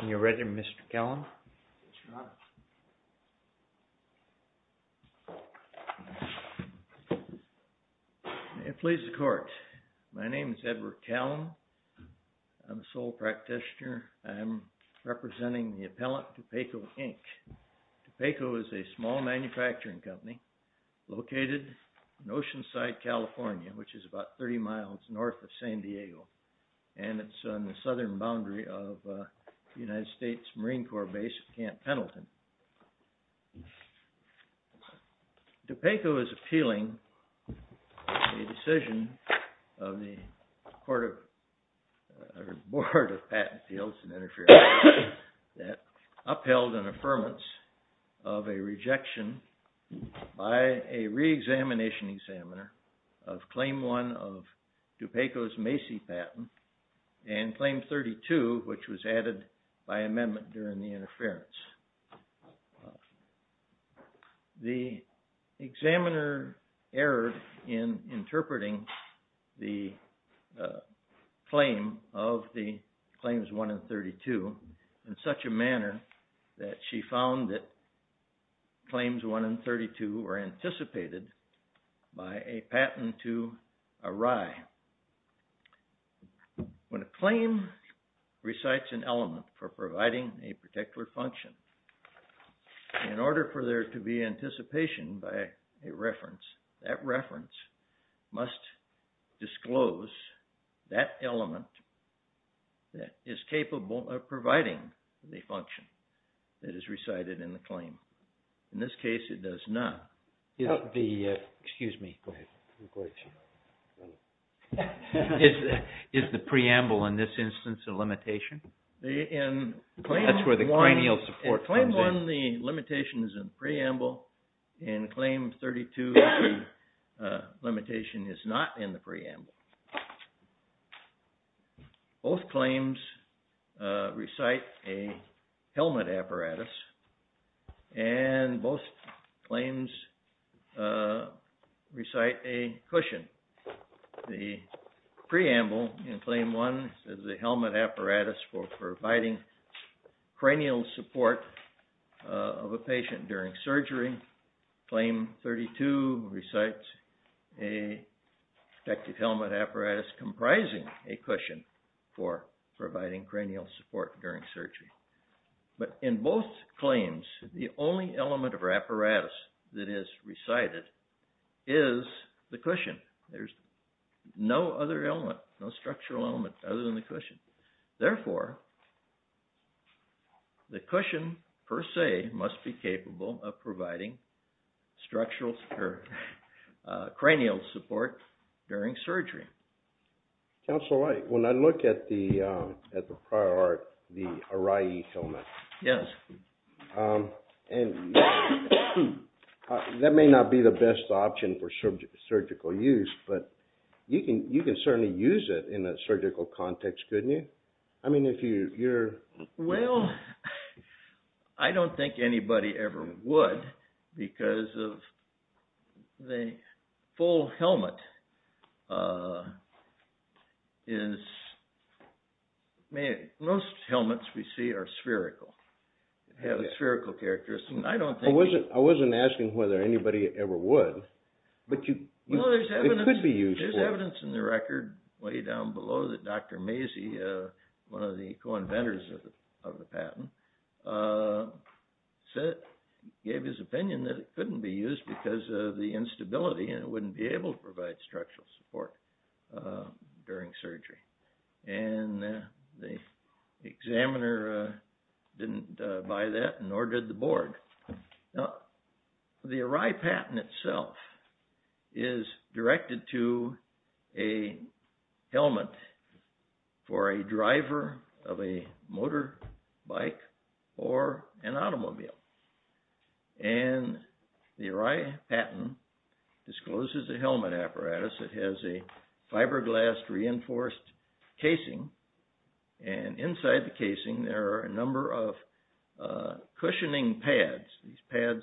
Are you ready, Mr. Callum? Yes, Your Honor. May it please the Court. My name is Edward Callum. I'm a sole practitioner. I'm representing the appellant DUPACO, Inc. DUPACO is a small manufacturing company located in Oceanside, California, which is about 30 miles north of San Diego. And it's on the southern boundary of the United States Marine Corps base at Camp Pendleton. DUPACO is appealing a decision of the Board of Patent Appeals and Interference that upheld an affirmance of a rejection by a reexamination examiner of Claim 1 of DUPACO's Macy patent and Claim 32, which was added by amendment during the interference. The examiner erred in interpreting the claim of the Claims 1 and 32 in such a manner that she found that Claims 1 and 32 were anticipated by a patent to a wry. When a claim recites an element for providing a particular function, in order for there to be anticipation by a reference, that reference must disclose that element that is capable of providing the function that is recited in the claim. In this case, it does not. Excuse me. Is the preamble in this instance a limitation? That's where the cranial support comes in. In Claim 1, the limitation is in the preamble. In Claim 32, the limitation is not in the preamble. Both claims recite a helmet apparatus, and both claims recite a cushion. The preamble in Claim 1 is a helmet apparatus for providing cranial support of a patient during surgery. Claim 32 recites a protective helmet apparatus comprising a cushion for providing cranial support during surgery. But in both claims, the only element of our apparatus that is recited is the cushion. There's no other element, no structural element other than the cushion. Therefore, the cushion, per se, must be capable of providing cranial support during surgery. Counselor, when I look at the prior art, the Arai'i helmet, that may not be the best option for surgical use, but you can certainly use it in a surgical context, couldn't you? I mean, if you're... Well, I don't think anybody ever would because of the full helmet. Most helmets we see are spherical. They have a spherical characteristic. I wasn't asking whether anybody ever would. Well, there's evidence in the record way down below that Dr. Masey, one of the co-inventors of the patent, gave his opinion that it couldn't be used because of the instability and it wouldn't be able to provide structural support during surgery. And the examiner didn't buy that, nor did the board. Now, the Arai patent itself is directed to a helmet for a driver of a motorbike or an automobile. And the Arai patent discloses a helmet apparatus. It has a fiberglass reinforced casing. And inside the casing, there are a number of cushioning pads. These pads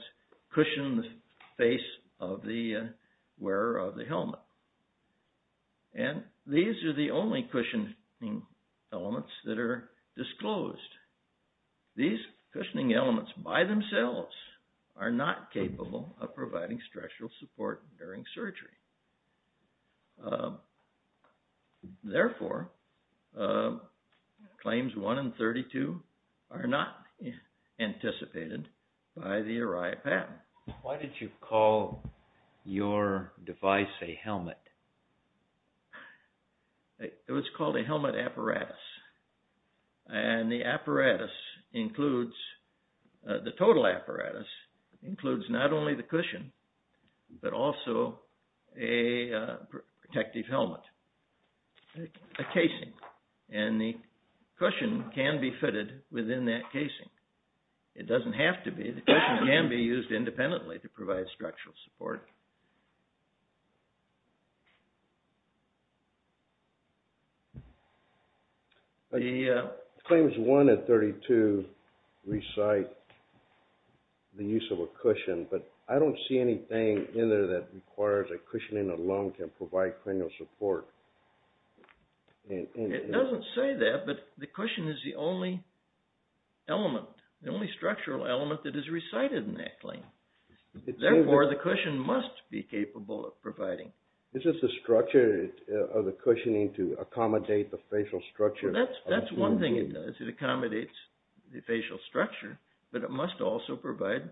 cushion the face of the wearer of the helmet. And these are the only cushioning elements that are disclosed. These cushioning elements by themselves are not capable of providing structural support during surgery. Therefore, claims 1 and 32 are not anticipated by the Arai patent. Why did you call your device a helmet? It was called a helmet apparatus. And the apparatus includes, the total apparatus, includes not only the cushion, but also a protective helmet, a casing. And the cushion can be fitted within that casing. It doesn't have to be. The cushion can be used independently to provide structural support. Claims 1 and 32 recite the use of a cushion, but I don't see anything in there that requires a cushioning alone to provide cranial support. It doesn't say that, but the cushion is the only element, the only structural element that is recited in that claim. Therefore, the cushion must be capable of providing. This is the structure of the cushioning to accommodate the facial structure. That's one thing it does, it accommodates the facial structure, but it must also provide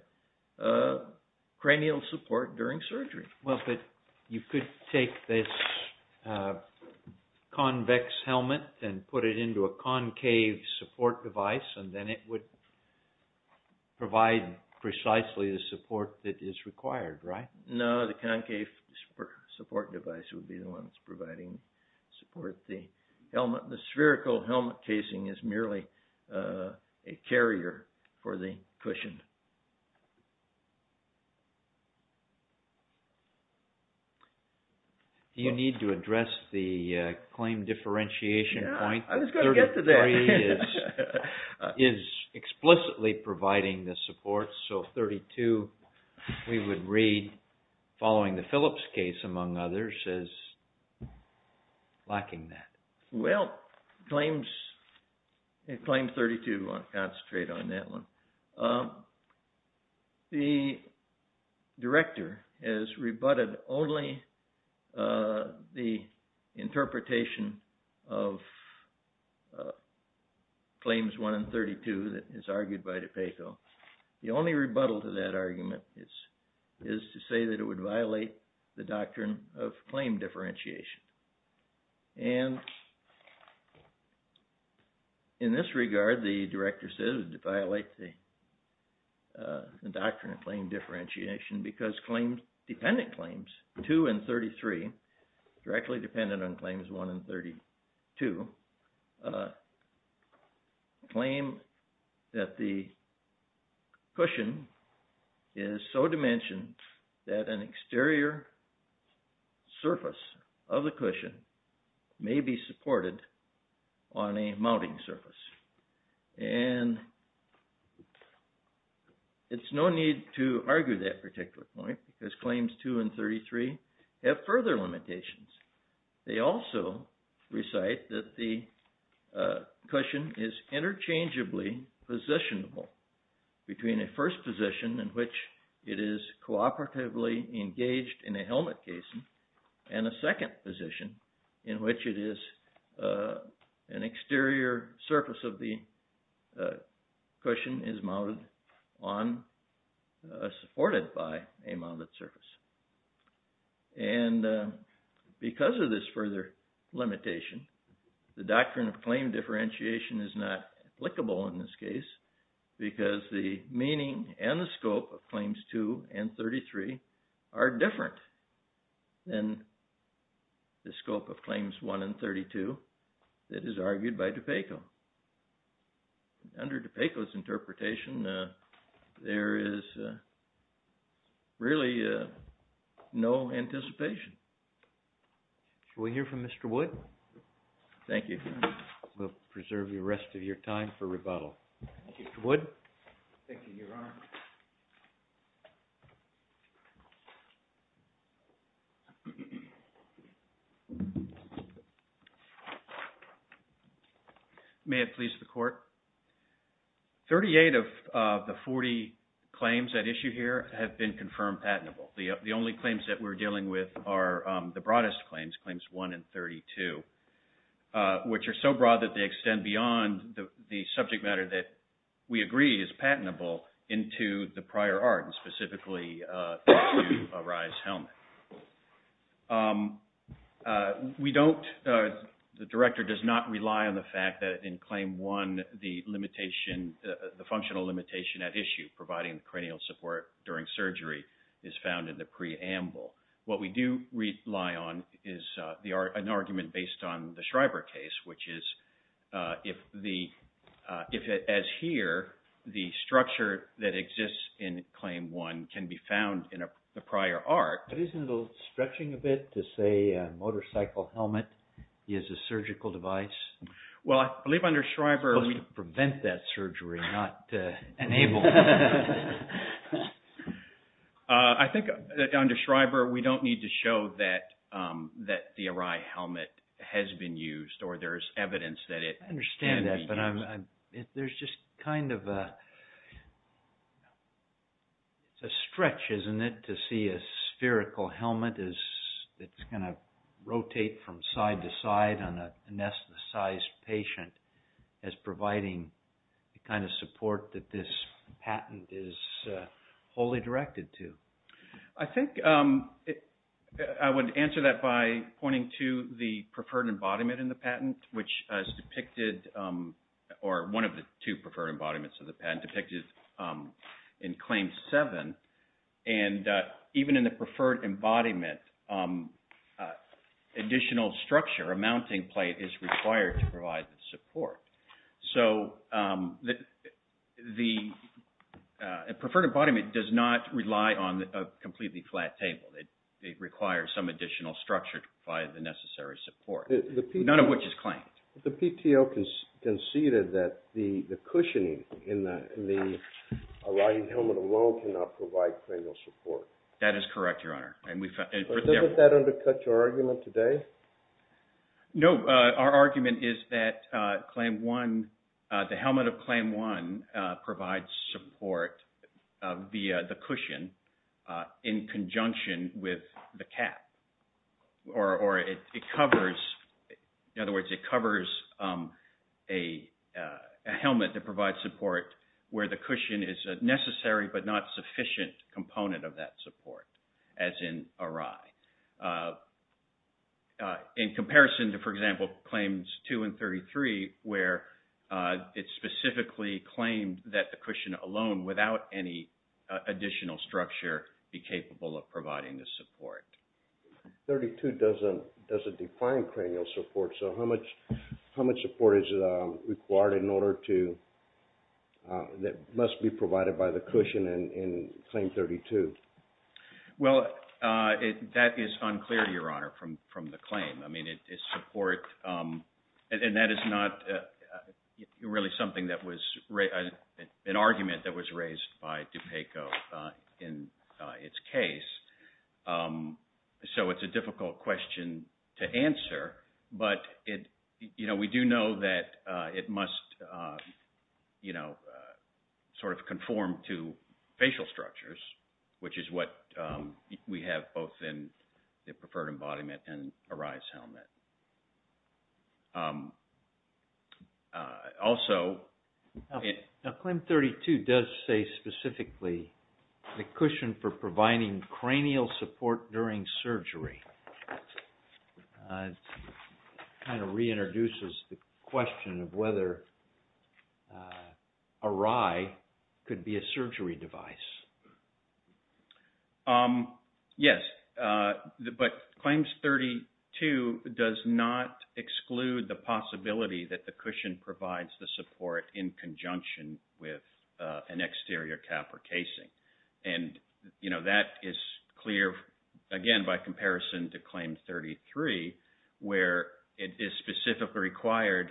cranial support during surgery. Well, but you could take this convex helmet and put it into a concave support device and then it would provide precisely the support that is required, right? No, the concave support device would be the one that's providing support. The spherical helmet casing is merely a carrier for the cushion. Do you need to address the claim differentiation point? I was going to get to that. 33 is explicitly providing the support, so 32 we would read following the Phillips case, among others, as lacking that. Well, claim 32, I'll concentrate on that one. The director has rebutted only the interpretation of claims 1 and 32 that is argued by DePaco. The only rebuttal to that argument is to say that it would violate the doctrine of claim differentiation. And in this regard, the director says it violates the doctrine of claim differentiation because dependent claims 2 and 33, directly dependent on claims 1 and 32, claim that the cushion is so dimensioned that an exterior surface of the cushion may be supported on a mounting surface. And it's no need to argue that particular point because claims 2 and 33 have further limitations. They also recite that the cushion is interchangeably positionable between a first position in which it is cooperatively engaged in a helmet casing and a second position in which it is an exterior surface of the cushion is mounted on, supported by a mounted surface. And because of this further limitation, the doctrine of claim differentiation is not applicable in this case because the meaning and the scope of claims 2 and 33 are different than the scope of claims 1 and 32 that is argued by DePaco. Under DePaco's interpretation, there is really no anticipation. Shall we hear from Mr. Wood? Thank you. We'll preserve the rest of your time for rebuttal. Thank you, Mr. Wood. Thank you, Your Honor. May it please the Court? Thirty-eight of the 40 claims at issue here have been confirmed patentable. The only claims that we're dealing with are the broadest claims, claims 1 and 32, which are so broad that they extend beyond the subject matter that we agree is patentable into the prior art and specifically into a RISE helmet. We don't, the Director does not rely on the fact that in claim 1, the limitation, the functional limitation at issue providing cranial support during surgery is found in the preamble. What we do rely on is an argument based on the Schreiber case, which is if the, as here, the structure that exists in claim 1 can be found in the prior art. But isn't it a little stretching a bit to say a motorcycle helmet is a surgical device? Well, I believe under Schreiber, we... To prevent that surgery, not enable it. I think under Schreiber, we don't need to show that the Arai helmet has been used or there's evidence that it can be used. I understand that, but there's just kind of a stretch, isn't it, to see a spherical helmet that's going to rotate from side to side on a anesthetized patient as providing the kind of support that this patent is wholly directed to. I think I would answer that by pointing to the preferred embodiment in the patent, which is depicted, or one of the two preferred embodiments of the patent, depicted in claim 7. And even in the preferred embodiment, additional structure, a mounting plate is required to provide the support. So the preferred embodiment does not rely on a completely flat table. It requires some additional structure to provide the necessary support, none of which is claimed. But the PTO conceded that the cushioning in the Arai helmet alone cannot provide cranial support. That is correct, Your Honor. Doesn't that undercut your argument today? No. Our argument is that the helmet of claim 1 provides support via the cushion in conjunction with the cap, or it covers, in other words, it covers a helmet that provides support where the cushion is a necessary but not sufficient component of that support, as in Arai. In comparison to, for example, claims 2 and 33, where it specifically claimed that the cushion alone, without any additional structure, be capable of providing the support. 32 doesn't define cranial support. So how much support is required in order to, that must be provided by the cushion in claim 32? Well, that is unclear, Your Honor, from the claim. I mean, it's support, and that is not really something that was, an argument that was raised by DuPaco in its case. So it's a difficult question to answer, but we do know that it must sort of conform to facial structures, which is what we have both in the preferred embodiment and Arai's helmet. Also, Now claim 32 does say specifically the cushion for providing cranial support during surgery. It kind of reintroduces the question of whether Arai could be a surgery device. Yes, but claims 32 does not exclude the possibility that the cushion provides the support in conjunction with an exterior cap or casing. And that is clear, again, by comparison to claim 33, where it is specifically required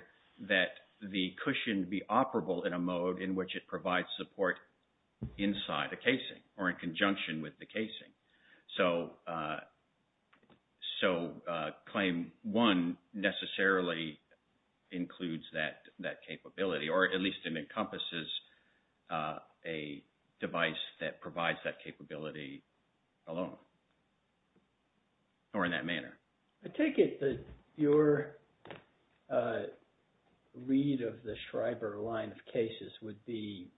that the cushion be operable in a mode in which it provides support inside a casing or in conjunction with the casing. So claim one necessarily includes that capability, or at least it encompasses a device that provides that capability alone, or in that manner. I take it that your read of the Schreiber line of cases would be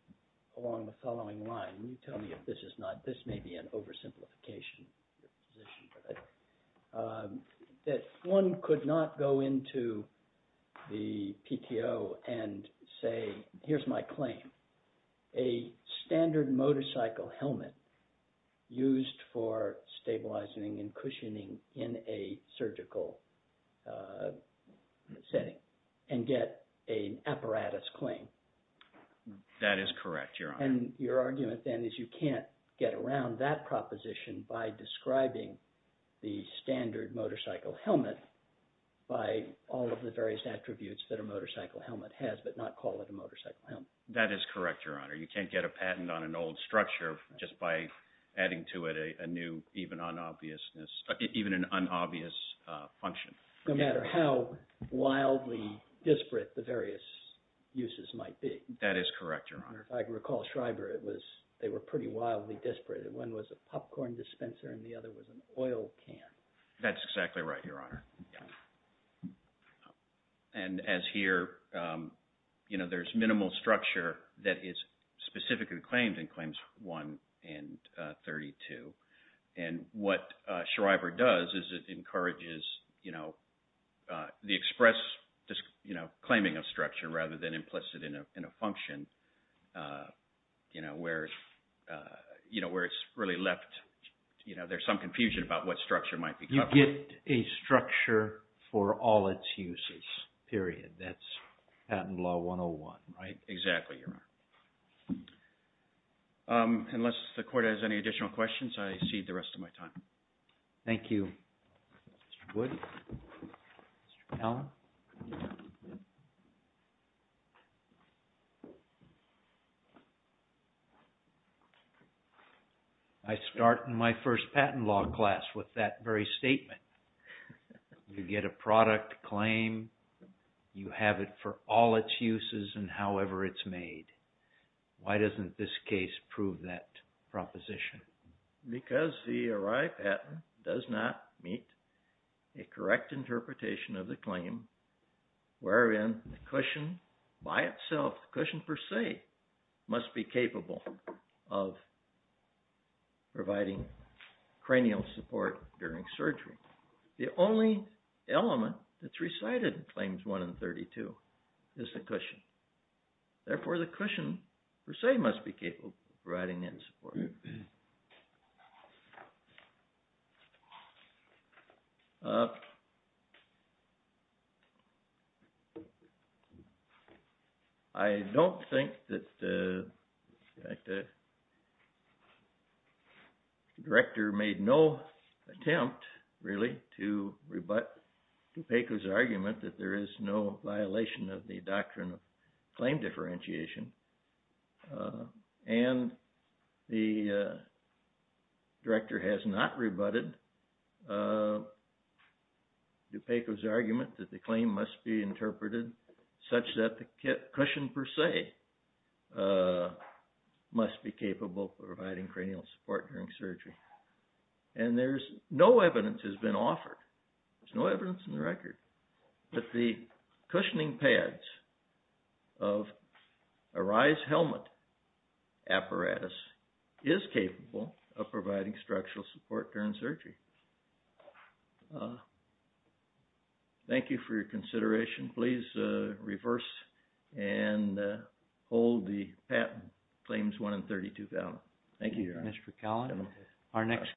along the following line. Tell me if this is not, this may be an oversimplification. That one could not go into the PTO and say, here's my claim, a standard motorcycle helmet used for stabilizing and cushioning in a surgical setting and get an apparatus claim. That is correct, Your Honor. And your argument then is you can't get around that proposition by describing the standard motorcycle helmet by all of the various attributes that a motorcycle helmet has, but not call it a motorcycle helmet. That is correct, Your Honor. You can't get a patent on an old structure just by adding to it a new, even an unobvious function. No matter how wildly disparate the various uses might be. That is correct, Your Honor. I recall Schreiber, they were pretty wildly disparate. One was a popcorn dispenser and the other was an oil can. That's exactly right, Your Honor. And as here, there's minimal structure that is specifically claimed in Claims 1 and 32. And what Schreiber does is it encourages the express claiming of structure rather than implicit in a function where it's really left, there's some confusion about what structure might be covered. You get a structure for all its uses, period. That's Patent Law 101, right? Exactly, Your Honor. Unless the Court has any additional questions, I cede the rest of my time. Thank you. Mr. Wood? Mr. Allen? I start in my first patent law class with that very statement. You get a product claim. You have it for all its uses and however it's made. Why doesn't this case prove that proposition? Because the arrived patent does not meet a correct interpretation of the claim wherein the cushion by itself, the cushion per se, must be capable of providing cranial support during surgery. The only element that's recited in Claims 1 and 32 is the cushion. Therefore, the cushion per se must be capable of providing that support. I don't think that the director made no attempt, really, to rebut DuPaco's argument that there is no violation of the doctrine of claim differentiation. And the director has not rebutted DuPaco's argument that the claim must be interpreted such that the cushion per se must be capable of providing cranial support during surgery. And there's no evidence has been offered. There's no evidence in the record that the cushioning pads of a rise helmet apparatus is capable of providing structural support during surgery. Thank you for your consideration. Please reverse and hold the patent Claims 1 and 32 down. Thank you, Your Honor. Mr. Callan. Our next.